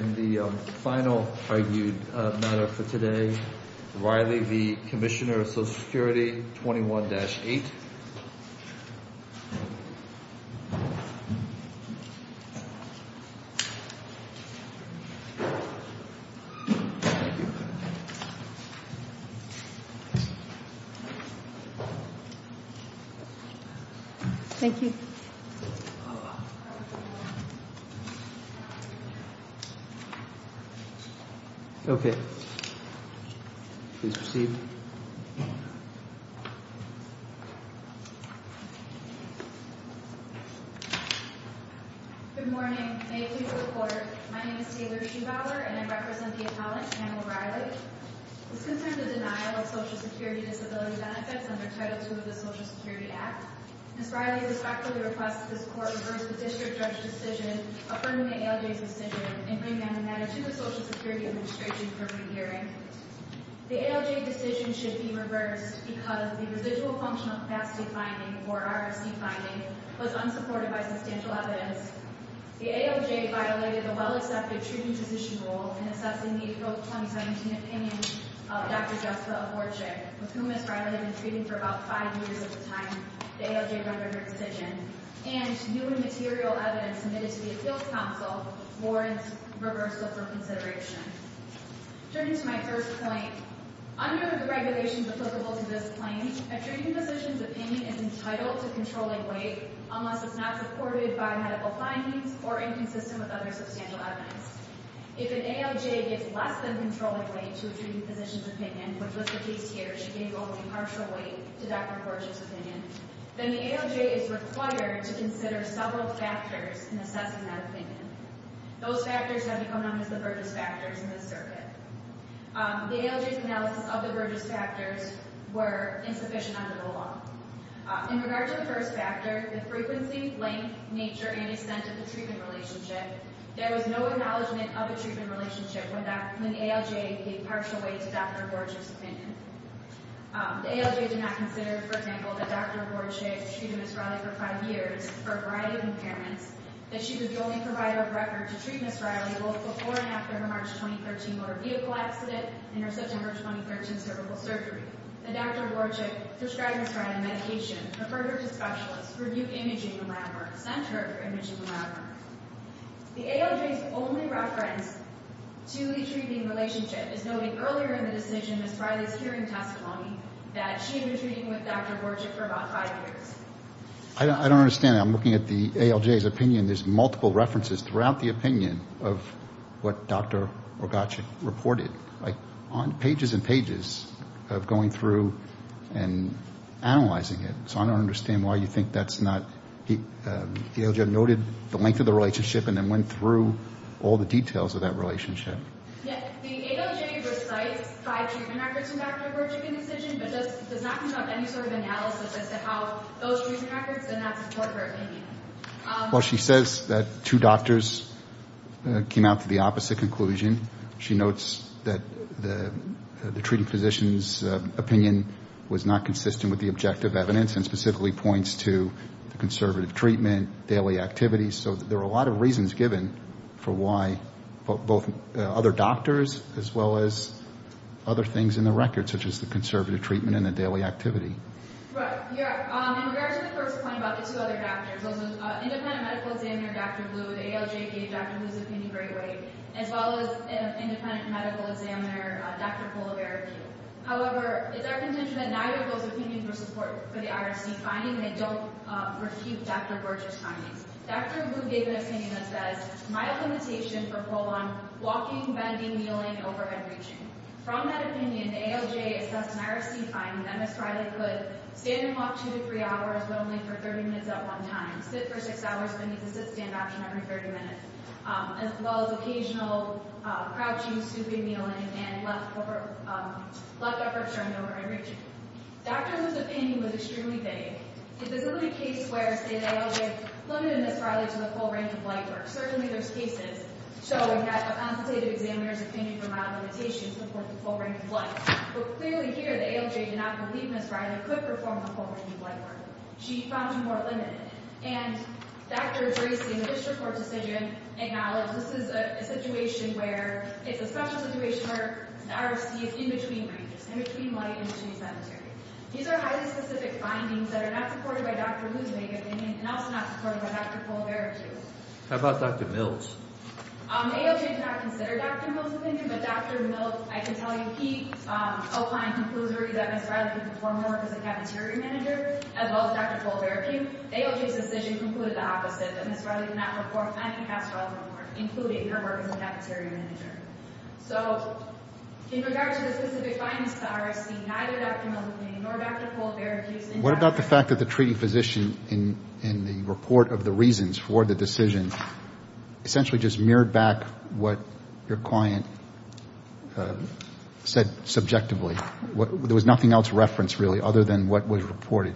and the final argued matter for today, Reilly v. Commissioner of Social Security 21-8. Thank you. Okay. Please proceed. Good morning. May it please the court. My name is Taylor Schubauer and I represent the appellant, Pamela Reilly. This concerns the denial of Social Security disability benefits under Title II of the Social Security Act. Ms. Reilly respectfully requests that this court reverse the district judge decision affirming the ALJ's decision in bringing down the matter to the Social Security Administration for re-hearing. The ALJ decision should be reversed because the Residual Functional Capacity finding, or RFC finding, was unsupported by substantial evidence. The ALJ violated the well-accepted treatment position rule in assessing the April 2017 opinion of Dr. Jessica Aborczyk, with whom Ms. Reilly had been treating for about five years at the time the ALJ rendered her decision, and new and material evidence submitted to the Appeals Council warrants reversal for consideration. Turning to my first point, under the regulations applicable to this claim, a treating physician's opinion is entitled to controlling weight unless it's not supported by medical findings or inconsistent with other substantial evidence. If an ALJ gives less than controlling weight to a treating physician's opinion, she gave only partial weight to Dr. Aborczyk's opinion, then the ALJ is required to consider several factors in assessing that opinion. Those factors have become known as the Burgess Factors in this circuit. The ALJ's analysis of the Burgess Factors were insufficient under the law. In regard to the first factor, the frequency, length, nature, and extent of the treatment relationship, there was no acknowledgement of a treatment relationship when the ALJ gave partial weight to Dr. Aborczyk's opinion. The ALJ did not consider, for example, that Dr. Aborczyk treated Ms. Riley for five years for a variety of impairments, that she was the only provider of record to treat Ms. Riley both before and after her March 2013 motor vehicle accident and her September 2013 cervical surgery. The Dr. Aborczyk prescribed Ms. Riley medication, referred her to specialists, reviewed imaging and lab work, sent her her imaging and lab work. The ALJ's only reference to a treating relationship is noted earlier in the decision, Ms. Riley's hearing testimony, that she was treating with Dr. Aborczyk for about five years. I don't understand that. I'm looking at the ALJ's opinion. There's multiple references throughout the opinion of what Dr. Aborczyk reported, like on pages and pages of going through and analyzing it, so I don't understand why you think that's not... The ALJ noted the length of the relationship and then went through all the details of that relationship. The ALJ recites five treatment records from Dr. Aborczyk in the decision, but does not come up with any sort of analysis as to how those treatment records did not support her opinion. Well, she says that two doctors came out to the opposite conclusion. She notes that the treating physician's opinion was not consistent with the objective evidence and specifically points to the conservative treatment, daily activities, so there are a lot of reasons given for why both other doctors as well as other things in the records, such as the conservative treatment and the daily activity. Right, yeah. And we are to the first point about the two other doctors. There was an independent medical examiner, Dr. Blue, the ALJ gave Dr. Blue's opinion very late, as well as an independent medical examiner, Dr. Polavaric. However, it's our contention that neither of those opinions were supportive for the IRC finding, and they don't refute Dr. Borges' findings. Dr. Blue gave an opinion that says, my limitation for colon walking, bending, kneeling, overhead reaching. From that opinion, the ALJ assessed an IRC finding that Ms. Riley could stand and walk two to three hours, but only for 30 minutes at one time, sit for six hours, then use a sit-stand option every 30 minutes, as well as occasional crouching, stooping, kneeling, and left upper turned over and reaching. Dr. Blue's opinion was extremely vague. If this is a case where, say, the ALJ has limited Ms. Riley to the full range of light work, certainly there's cases showing that a consultative examiner's opinion for mild limitations supports the full range of light. But clearly here, the ALJ did not believe Ms. Riley could perform the full range of light work. She found her more limited. And Dr. Dracy, in the district court decision, acknowledged this is a situation where it's a special situation where the IRC is in between ranges, in between light and between cemetery. These are highly specific findings that are not supported by Dr. Blue's vague opinion and also not supported by Dr. Colbert's view. How about Dr. Mills? The ALJ did not consider Dr. Mills' opinion, but Dr. Mills, I can tell you, he outlined and concluded that Ms. Riley could perform her work as a cafeteria manager, as well as Dr. Colbert. The ALJ's decision concluded the opposite, that Ms. Riley could not perform any pastoral work, including her work as a cafeteria manager. So in regard to the specific findings of the IRC, neither Dr. Mills' opinion nor Dr. Colbert's view. What about the fact that the treating physician, in the report of the reasons for the decision, essentially just mirrored back what your client said subjectively? There was nothing else referenced, really, other than what was reported.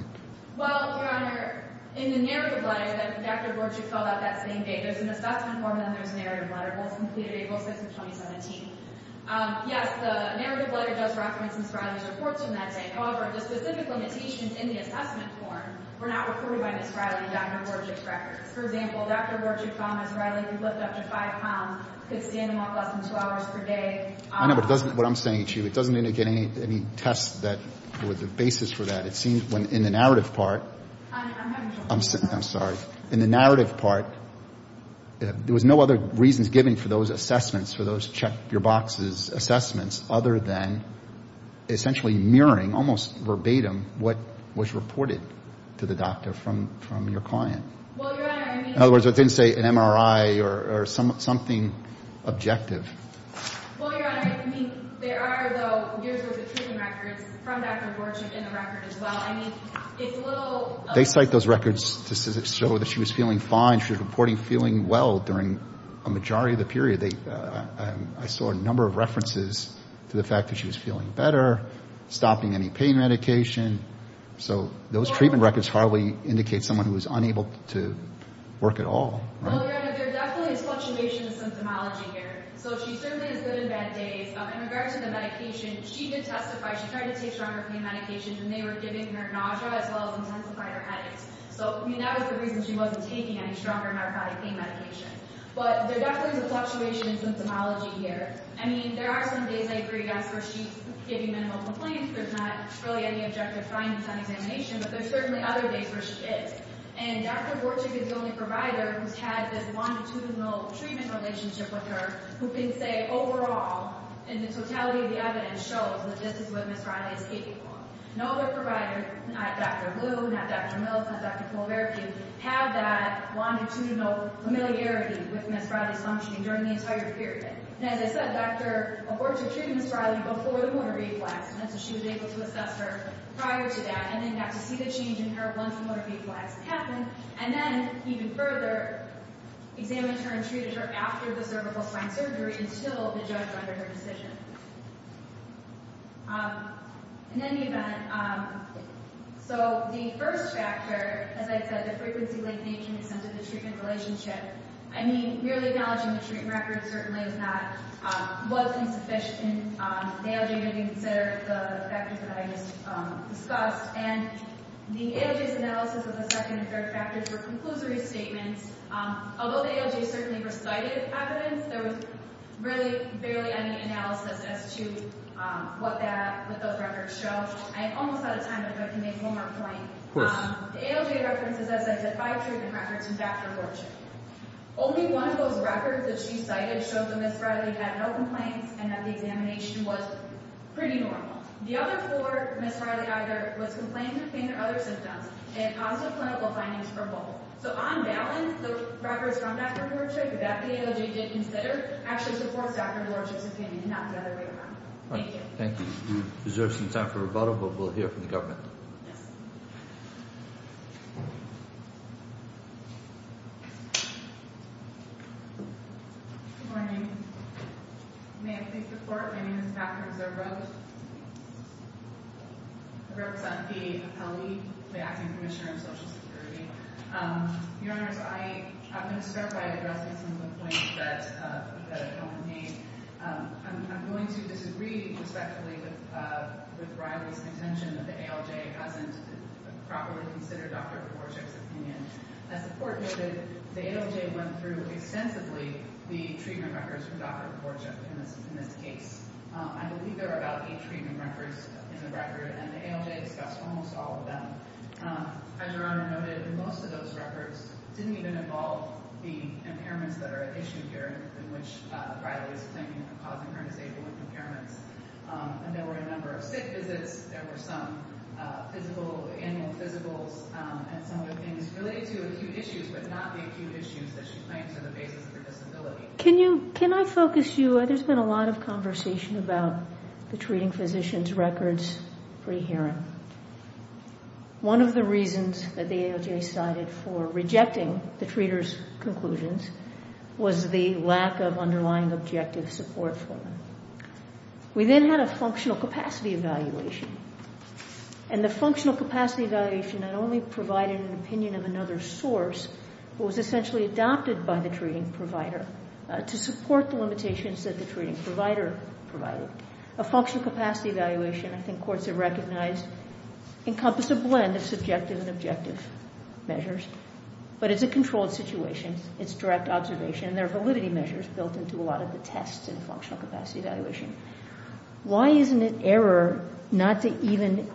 Well, Your Honor, in the narrative letter that Dr. Borchett filled out that same day, there's an assessment form and then there's a narrative letter that was completed April 6, 2017. Yes, the narrative letter does reference Ms. Riley's reports from that day. However, the specific limitations in the assessment form were not recorded by Ms. Riley and Dr. Borchett's records. For example, Dr. Borchett promised Riley could lift up to 5 pounds, could stand and walk less than 2 hours per day. I know, but it doesn't, what I'm saying to you, it doesn't indicate any tests that were the basis for that. It seems when, in the narrative part. I'm having trouble hearing you. I'm sorry. In the narrative part, there was no other reasons given for those assessments, for those check your boxes assessments, other than essentially mirroring, almost verbatim, what was reported to the doctor from your client. Well, Your Honor, I mean... In other words, it didn't say an MRI or something objective. Well, Your Honor, I mean, there are, though, years worth of treatment records from Dr. Borchett in the record as well. I mean, it's a little... They cite those records to show that she was feeling fine, she was reporting feeling well during a majority of the period. I saw a number of references to the fact that she was feeling better, stopping any pain medication. So those treatment records hardly indicate someone who was unable to work at all. Well, Your Honor, there definitely is fluctuation in symptomology here. So she certainly has good and bad days. In regards to the medication, she did testify. She tried to take stronger pain medications, and they were giving her nausea as well as intensifying her headaches. So, I mean, that was the reason she wasn't taking any stronger narcotic pain medication. But there definitely is a fluctuation in symptomology here. I mean, there are some days, I agree, that's where she's giving minimal complaints. There's not really any objective findings on examination, but there's certainly other days where she is. And Dr. Borchett is the only provider who's had this longitudinal treatment relationship with her who can say overall, in the totality of the evidence, shows that this is what Ms. Riley is capable of. No other provider, not Dr. Blue, not Dr. Mills, not Dr. Kulvercu, have that longitudinal familiarity with Ms. Riley's functioning during the entire period. And as I said, Dr. Borchett treated Ms. Riley before the motor v-flax, and so she was able to assess her prior to that and then got to see the change in her lung-to-motor v-flax happen, and then even further examined her and treated her after the cervical spine surgery until the judge rendered her decision. In any event, so the first factor, as I said, the frequency, length, age, and extent of the treatment relationship, I mean, merely acknowledging the treatment record certainly is not, wasn't sufficient. The ALJ didn't consider the factors that I just discussed. And the ALJ's analysis of the second and third factors were conclusory statements. Although the ALJ certainly recited evidence, there was really barely any analysis as to what that, what those records show. I'm almost out of time, but if I could make one more point. Of course. The ALJ references, as I said, five treatment records from Dr. Borchett. Only one of those records that she cited showed that Ms. Riley had no complaints and that the examination was pretty normal. The other four, Ms. Riley either was complaining of pain or other symptoms and positive clinical findings for both. So on balance, the records from Dr. Borchett that the ALJ did consider actually supports Dr. Borchett's opinion and not the other way around. Thank you. We deserve some time for rebuttal, but we'll hear from the government. Yes. Good morning. May I please report? My name is Catherine Zerbo. I represent the appellee, the Acting Commissioner of Social Security. Your Honors, I'm going to start by addressing some of the points that the government made. I'm going to disagree respectfully with Riley's contention that the ALJ hasn't properly considered Dr. Borchett's opinion. As the Court noted, the ALJ went through extensively the treatment records from Dr. Borchett in this case. I believe there are about eight treatment records in the record, and the ALJ discussed almost all of them. As Your Honor noted, most of those records didn't even involve the impairments that are at issue here, in which Riley is claiming for causing her disabled impairments. And there were a number of sick visits, there were some physical, annual physicals, and some other things related to acute issues, but not the acute issues that she claims are the basis of her disability. Can I focus you? There's been a lot of conversation about the treating physician's records pre-hearing. One of the reasons that the ALJ sided for rejecting the treaters' conclusions was the lack of underlying objective support for them. We then had a functional capacity evaluation, and the functional capacity evaluation not only provided an opinion of another source, but was essentially adopted by the treating provider to support the limitations that the treating provider provided. A functional capacity evaluation, I think courts have recognized, encompassed a blend of subjective and objective measures, but it's a controlled situation. It's direct observation, and there are validity measures built into a lot of the tests in a functional capacity evaluation. Why isn't it error not to even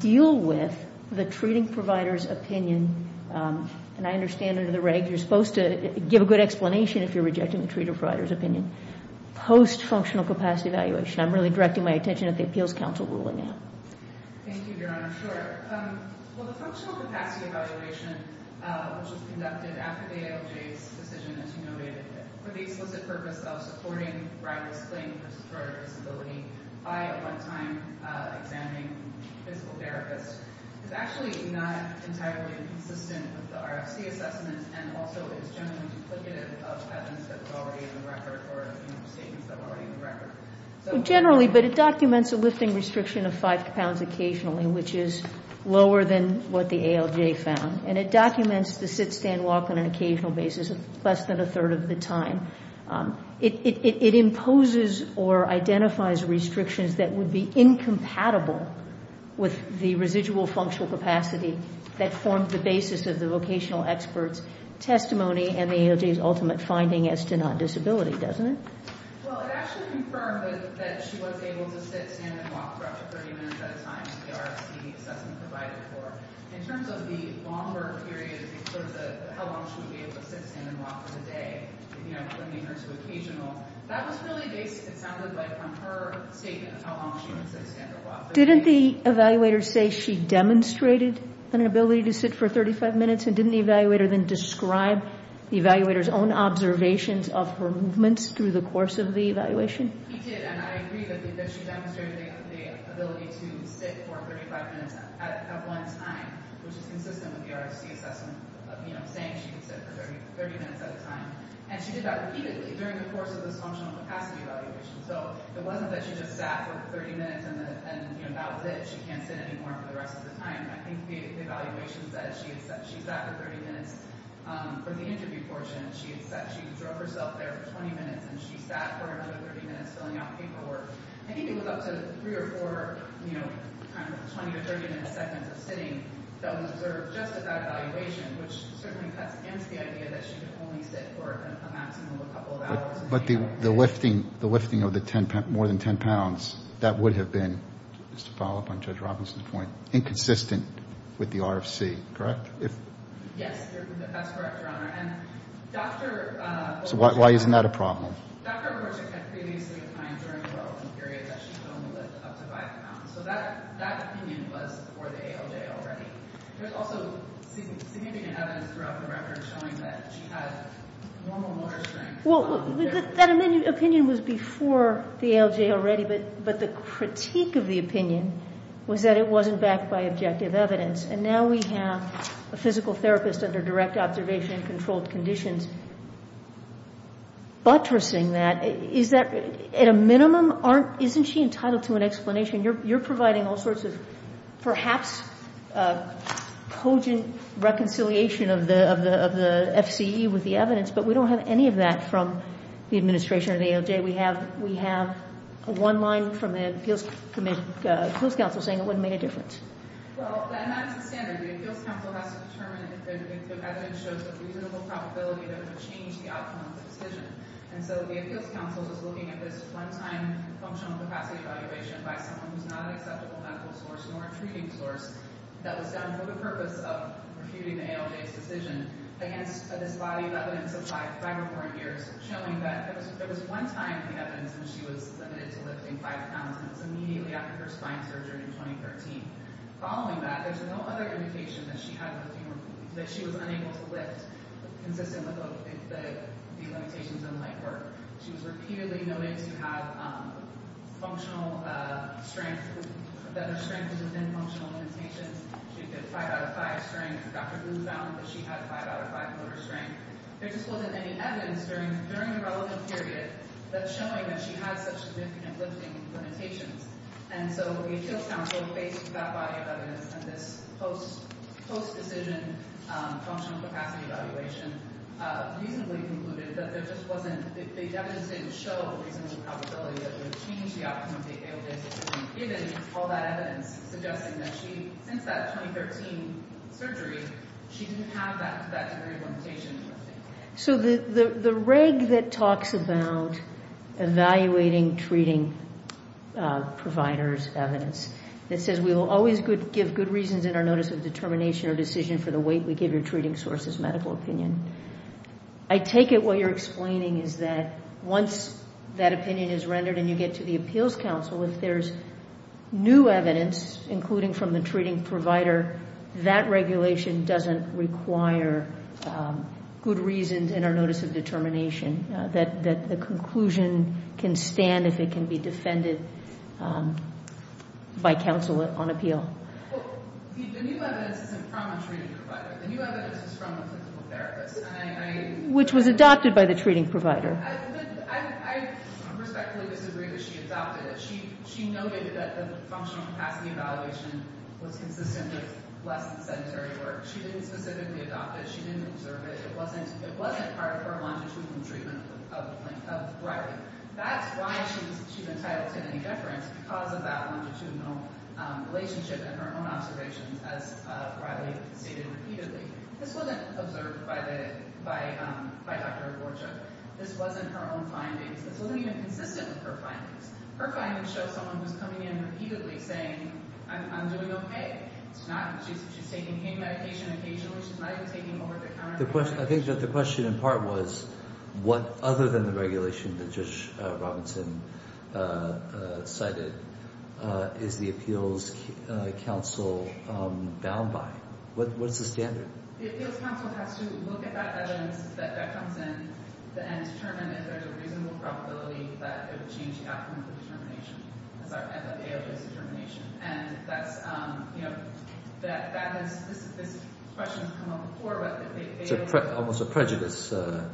deal with the treating provider's opinion, and I understand under the regs you're supposed to give a good explanation if you're rejecting the treating provider's opinion, post-functional capacity evaluation. I'm really directing my attention at the Appeals Council ruling now. Thank you, Your Honor. Sure. Well, the functional capacity evaluation, which was conducted after the ALJ's decision, as you noted, for the explicit purpose of supporting rival's claim for disorderly disability by a one-time examining physical therapist, is actually not entirely consistent with the RFC assessment and also is generally duplicative of evidence that was already in the record or of statements that were already in the record. Generally, but it documents a lifting restriction of five pounds occasionally, which is lower than what the ALJ found, and it documents the sit, stand, walk on an occasional basis of less than a third of the time. It imposes or identifies restrictions that would be incompatible with the residual functional capacity that formed the basis of the vocational expert's testimony and the ALJ's ultimate finding as to non-disability, doesn't it? Well, it actually confirmed that she was able to sit, stand, and walk for up to 30 minutes at a time, as the RFC assessment provided for. In terms of the longer period, in terms of how long she would be able to sit, stand, and walk for the day, you know, bringing her to occasional, that was really based, it sounded like, on her statement of how long she would sit, stand, or walk. Didn't the evaluator say she demonstrated an ability to sit for 35 minutes, and didn't the evaluator then describe the evaluator's own observations of her movements through the course of the evaluation? He did, and I agree that she demonstrated the ability to sit for 35 minutes at one time, which is consistent with the RFC assessment, you know, saying she could sit for 30 minutes at a time. And she did that repeatedly during the course of this functional capacity evaluation. So, it wasn't that she just sat for 30 minutes and, you know, that was it. She can't sit anymore for the rest of the time. I think the evaluation said she sat for 30 minutes. For the interview portion, she said she drove herself there for 20 minutes, and she sat for another 30 minutes filling out paperwork. I think it was up to three or four, you know, kind of 20 or 30 minute segments of sitting that was observed just at that evaluation, which certainly cuts against the idea that she could only sit for a maximum of a couple of hours. But the lifting of the 10 pounds, more than 10 pounds, that would have been, just to follow up on Judge Robinson's point, inconsistent with the RFC, correct? Yes, that's correct, Your Honor. So, why isn't that a problem? Dr. Horchick had previously defined during the well-being period that she could only lift up to 5 pounds. So, that opinion was for the ALJ already. There's also significant evidence throughout the record showing that she had normal motor strength. Well, that opinion was before the ALJ already, but the critique of the opinion was that it wasn't backed by objective evidence. And now we have a physical therapist under direct observation and controlled conditions buttressing that. At a minimum, isn't she entitled to an explanation? You're providing all sorts of perhaps cogent reconciliation of the FCE with the evidence, but we don't have any of that from the administration of the ALJ. We have one line from the Appeals Council saying it wouldn't make a difference. Well, and that's the standard. The Appeals Council has to determine if the evidence shows a reasonable probability that it would change the outcome of the decision. And so the Appeals Council was looking at this one-time functional capacity evaluation by someone who's not an acceptable medical source nor a treating source that was done for the purpose of refuting the ALJ's decision against this body of evidence of five or more years, showing that there was one time in the evidence when she was limited to lifting five pounds, and it was immediately after her spine surgery in 2013. Following that, there's no other indication that she was unable to lift, consistent with the limitations in light work. She was repeatedly noted to have functional strength, that her strength was within functional limitations. She did five out of five strength. Dr. Boone found that she had five out of five motor strength. There just wasn't any evidence during the relevant period that's showing that she had such significant lifting limitations. And so the Appeals Council, based on that body of evidence and this post-decision functional capacity evaluation, reasonably concluded that there just wasn't – the evidence didn't show a reasonable probability that it would change the outcome of the ALJ decision, given all that evidence suggesting that she, since that 2013 surgery, she didn't have that degree of limitation in lifting. So the reg that talks about evaluating treating providers' evidence that says we will always give good reasons in our notice of determination or decision for the weight we give your treating source's medical opinion, I take it what you're explaining is that once that opinion is rendered and you get to the Appeals Council, if there's new evidence, including from the treating provider, that regulation doesn't require good reasons in our notice of determination, that the conclusion can stand if it can be defended by counsel on appeal. The new evidence isn't from a treating provider. The new evidence is from a physical therapist. Which was adopted by the treating provider. I respectfully disagree that she adopted it. She noted that the functional capacity evaluation was consistent with less sedentary work. She didn't specifically adopt it. She didn't observe it. It wasn't part of her longitudinal treatment of Riley. That's why she's entitled to any deference, because of that longitudinal relationship and her own observations, as Riley stated repeatedly. This wasn't observed by Dr. Gorchuk. This wasn't her own findings. This wasn't even consistent with her findings. Her findings show someone who's coming in repeatedly saying, I'm doing okay. She's taking pain medication occasionally. She's not even taking over-the-counter medication. I think the question in part was, what other than the regulation that Judge Robinson cited, is the Appeals Council bound by? What's the standard? The Appeals Council has to look at that evidence that comes in and determine if there's a reasonable probability that it would change the outcome of the determination, the AOA's determination. This question has come up before. It's almost a prejudice standard.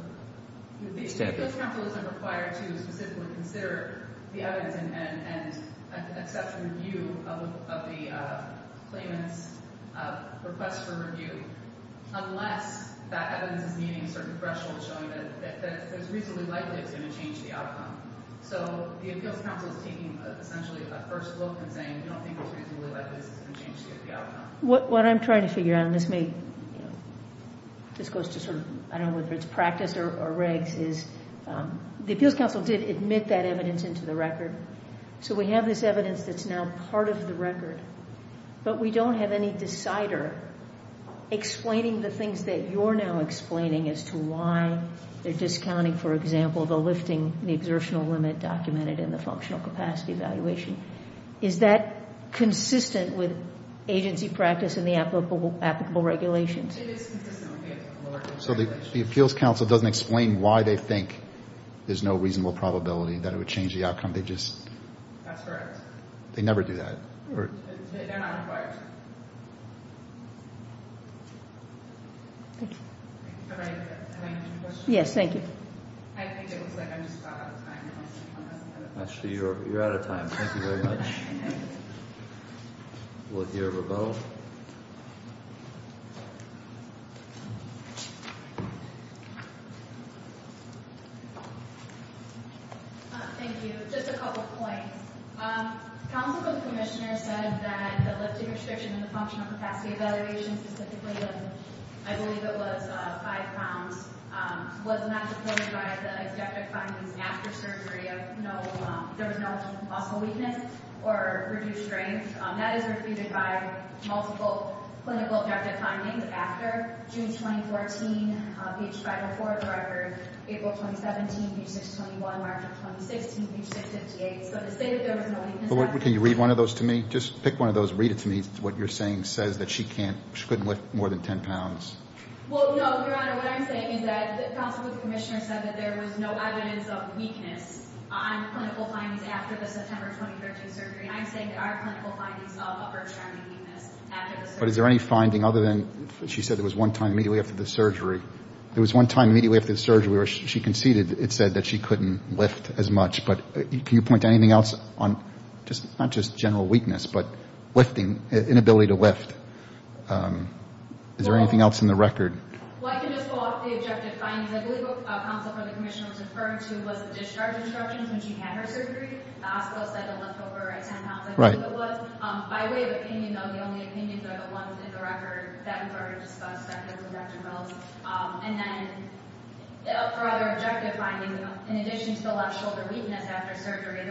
The Appeals Council isn't required to specifically consider the evidence and accept review of the claimant's request for review, unless that evidence is meeting certain thresholds showing that it's reasonably likely it's going to change the outcome. So the Appeals Council is taking essentially a first look and saying, we don't think it's reasonably likely this is going to change the outcome. What I'm trying to figure out, and this goes to sort of, I don't know whether it's practice or regs, the Appeals Council did admit that evidence into the record. So we have this evidence that's now part of the record, but we don't have any decider explaining the things that you're now explaining as to why they're discounting, for example, the lifting of the exertional limit documented in the functional capacity evaluation. Is that consistent with agency practice and the applicable regulations? It is consistent with the applicable regulations. So the Appeals Council doesn't explain why they think there's no reasonable probability that it would change the outcome, they just... That's correct. They never do that. They're not required. Have I answered your question? Yes, thank you. I think it looks like I'm just about out of time. Actually, you're out of time. Thank you very much. We'll hear from both. Thank you. Just a couple of points. Counsel to the Commissioner said that the lifting restriction in the functional capacity evaluation, specifically, I believe it was five pounds, was not determined by the executive findings after surgery. There was no possible weakness or reduced strength. That is refuted by multiple clinical objective findings after June 2014, page 504 of the record, April 2017, page 621, March of 2016, page 658. So to say that there was no weakness... Can you read one of those to me? Just pick one of those and read it to me. What you're saying says that she couldn't lift more than 10 pounds. Well, no, Your Honor. Your Honor, what I'm saying is that the Counsel to the Commissioner said that there was no evidence of weakness on clinical findings after the September 2013 surgery, and I'm saying there are clinical findings of upper extremity weakness after the surgery. But is there any finding other than she said there was one time immediately after the surgery, there was one time immediately after the surgery where she conceded it said that she couldn't lift as much. But can you point to anything else on not just general weakness, but lifting, inability to lift? Is there anything else in the record? Well, I can just pull up the objective findings. I believe what the Counsel to the Commissioner was referring to was the discharge instructions when she had her surgery. The hospital said to lift over 10 pounds. I believe it was. By way of opinion, though, the only opinions are the ones in the record that were discussed by Dr. Mills. And then for other objective findings, in addition to the left shoulder weakness after surgery,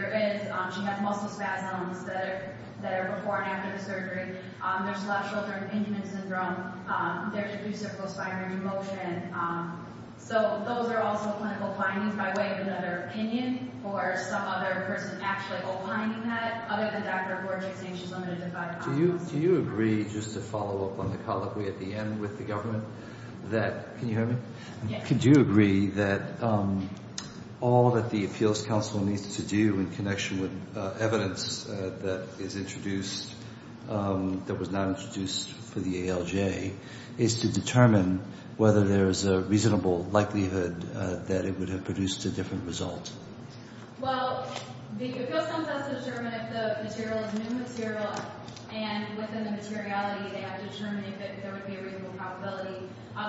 there's left shoulder impingement syndrome. There's reciprocal spinal remotion. So those are also clinical findings by way of another opinion or some other person actually opining that, other than Dr. Gorgic saying she's limited to five pounds. Do you agree, just to follow up on the colleague we had at the end with the government, that – can you hear me? Yes. I can do agree that all that the Appeals Council needs to do in connection with evidence that is introduced, that was not introduced for the ALJ, is to determine whether there's a reasonable likelihood that it would have produced a different result. Well, the Appeals Council has to determine if the material is new material, and within the materiality they have to determine if there would be a reasonable probability.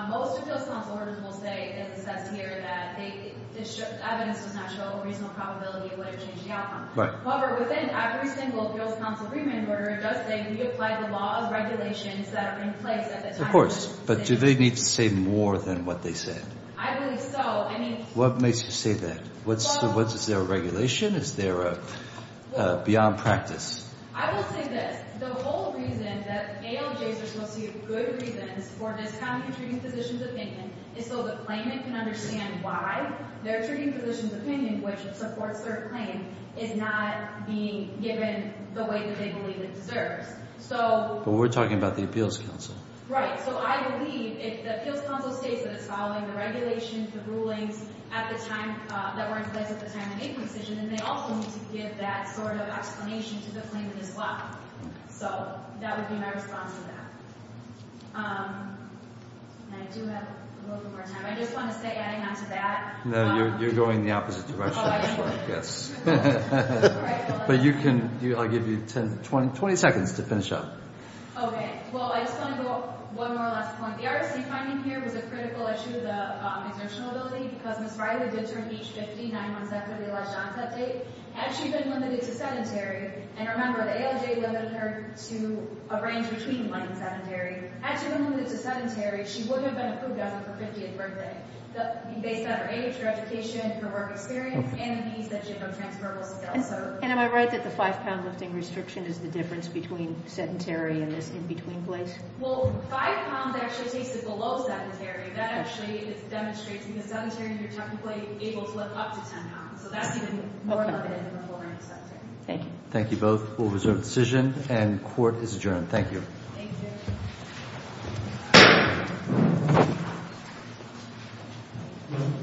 Most Appeals Council orders will say, as it says here, that the evidence does not show a reasonable probability it would have changed the outcome. Right. However, within every single Appeals Council agreement order, it does say we apply the law of regulations that are in place at the time of this – Of course, but do they need to say more than what they said? I believe so. I mean – What makes you say that? Well – Is there a regulation? Is there a – beyond practice? I will say this. The whole reason that ALJs are supposed to use good reasons for discounting a treating physician's opinion is so the claimant can understand why their treating physician's opinion, which supports their claim, is not being given the way that they believe it deserves. So – But we're talking about the Appeals Council. Right. So I believe if the Appeals Council states that it's following the regulations, the rulings at the time – that were in place at the time of a decision, then they also need to give that sort of explanation to the claimant as well. So that would be my response to that. And I do have a little bit more time. I just want to say, adding on to that – No, you're going the opposite direction. Oh, I'm sorry. Yes. All right. Well, that's fine. But you can – I'll give you 10 – 20 seconds to finish up. Okay. Well, I just want to go one more last point. The RFC finding here was a critical issue, the exertional ability, because Ms. Riley did turn age 50 nine months after the alleged onset date. Had she been limited to sedentary – and remember, the ALJ limited her to a range between light and sedentary – had she been limited to sedentary, she wouldn't have been approved as of her 50th birthday, based on her age, her education, her work experience, and the needs that she had of transferable skills. And am I right that the five-pound lifting restriction is the difference between sedentary and this in-between place? Well, five pounds actually takes it below sedentary. That actually is demonstrating that sedentary you're technically able to lift up to 10 pounds. So that's even more limited than the full range sedentary. Thank you. Thank you both. We'll reserve the decision, and court is adjourned. Thank you. Thank you.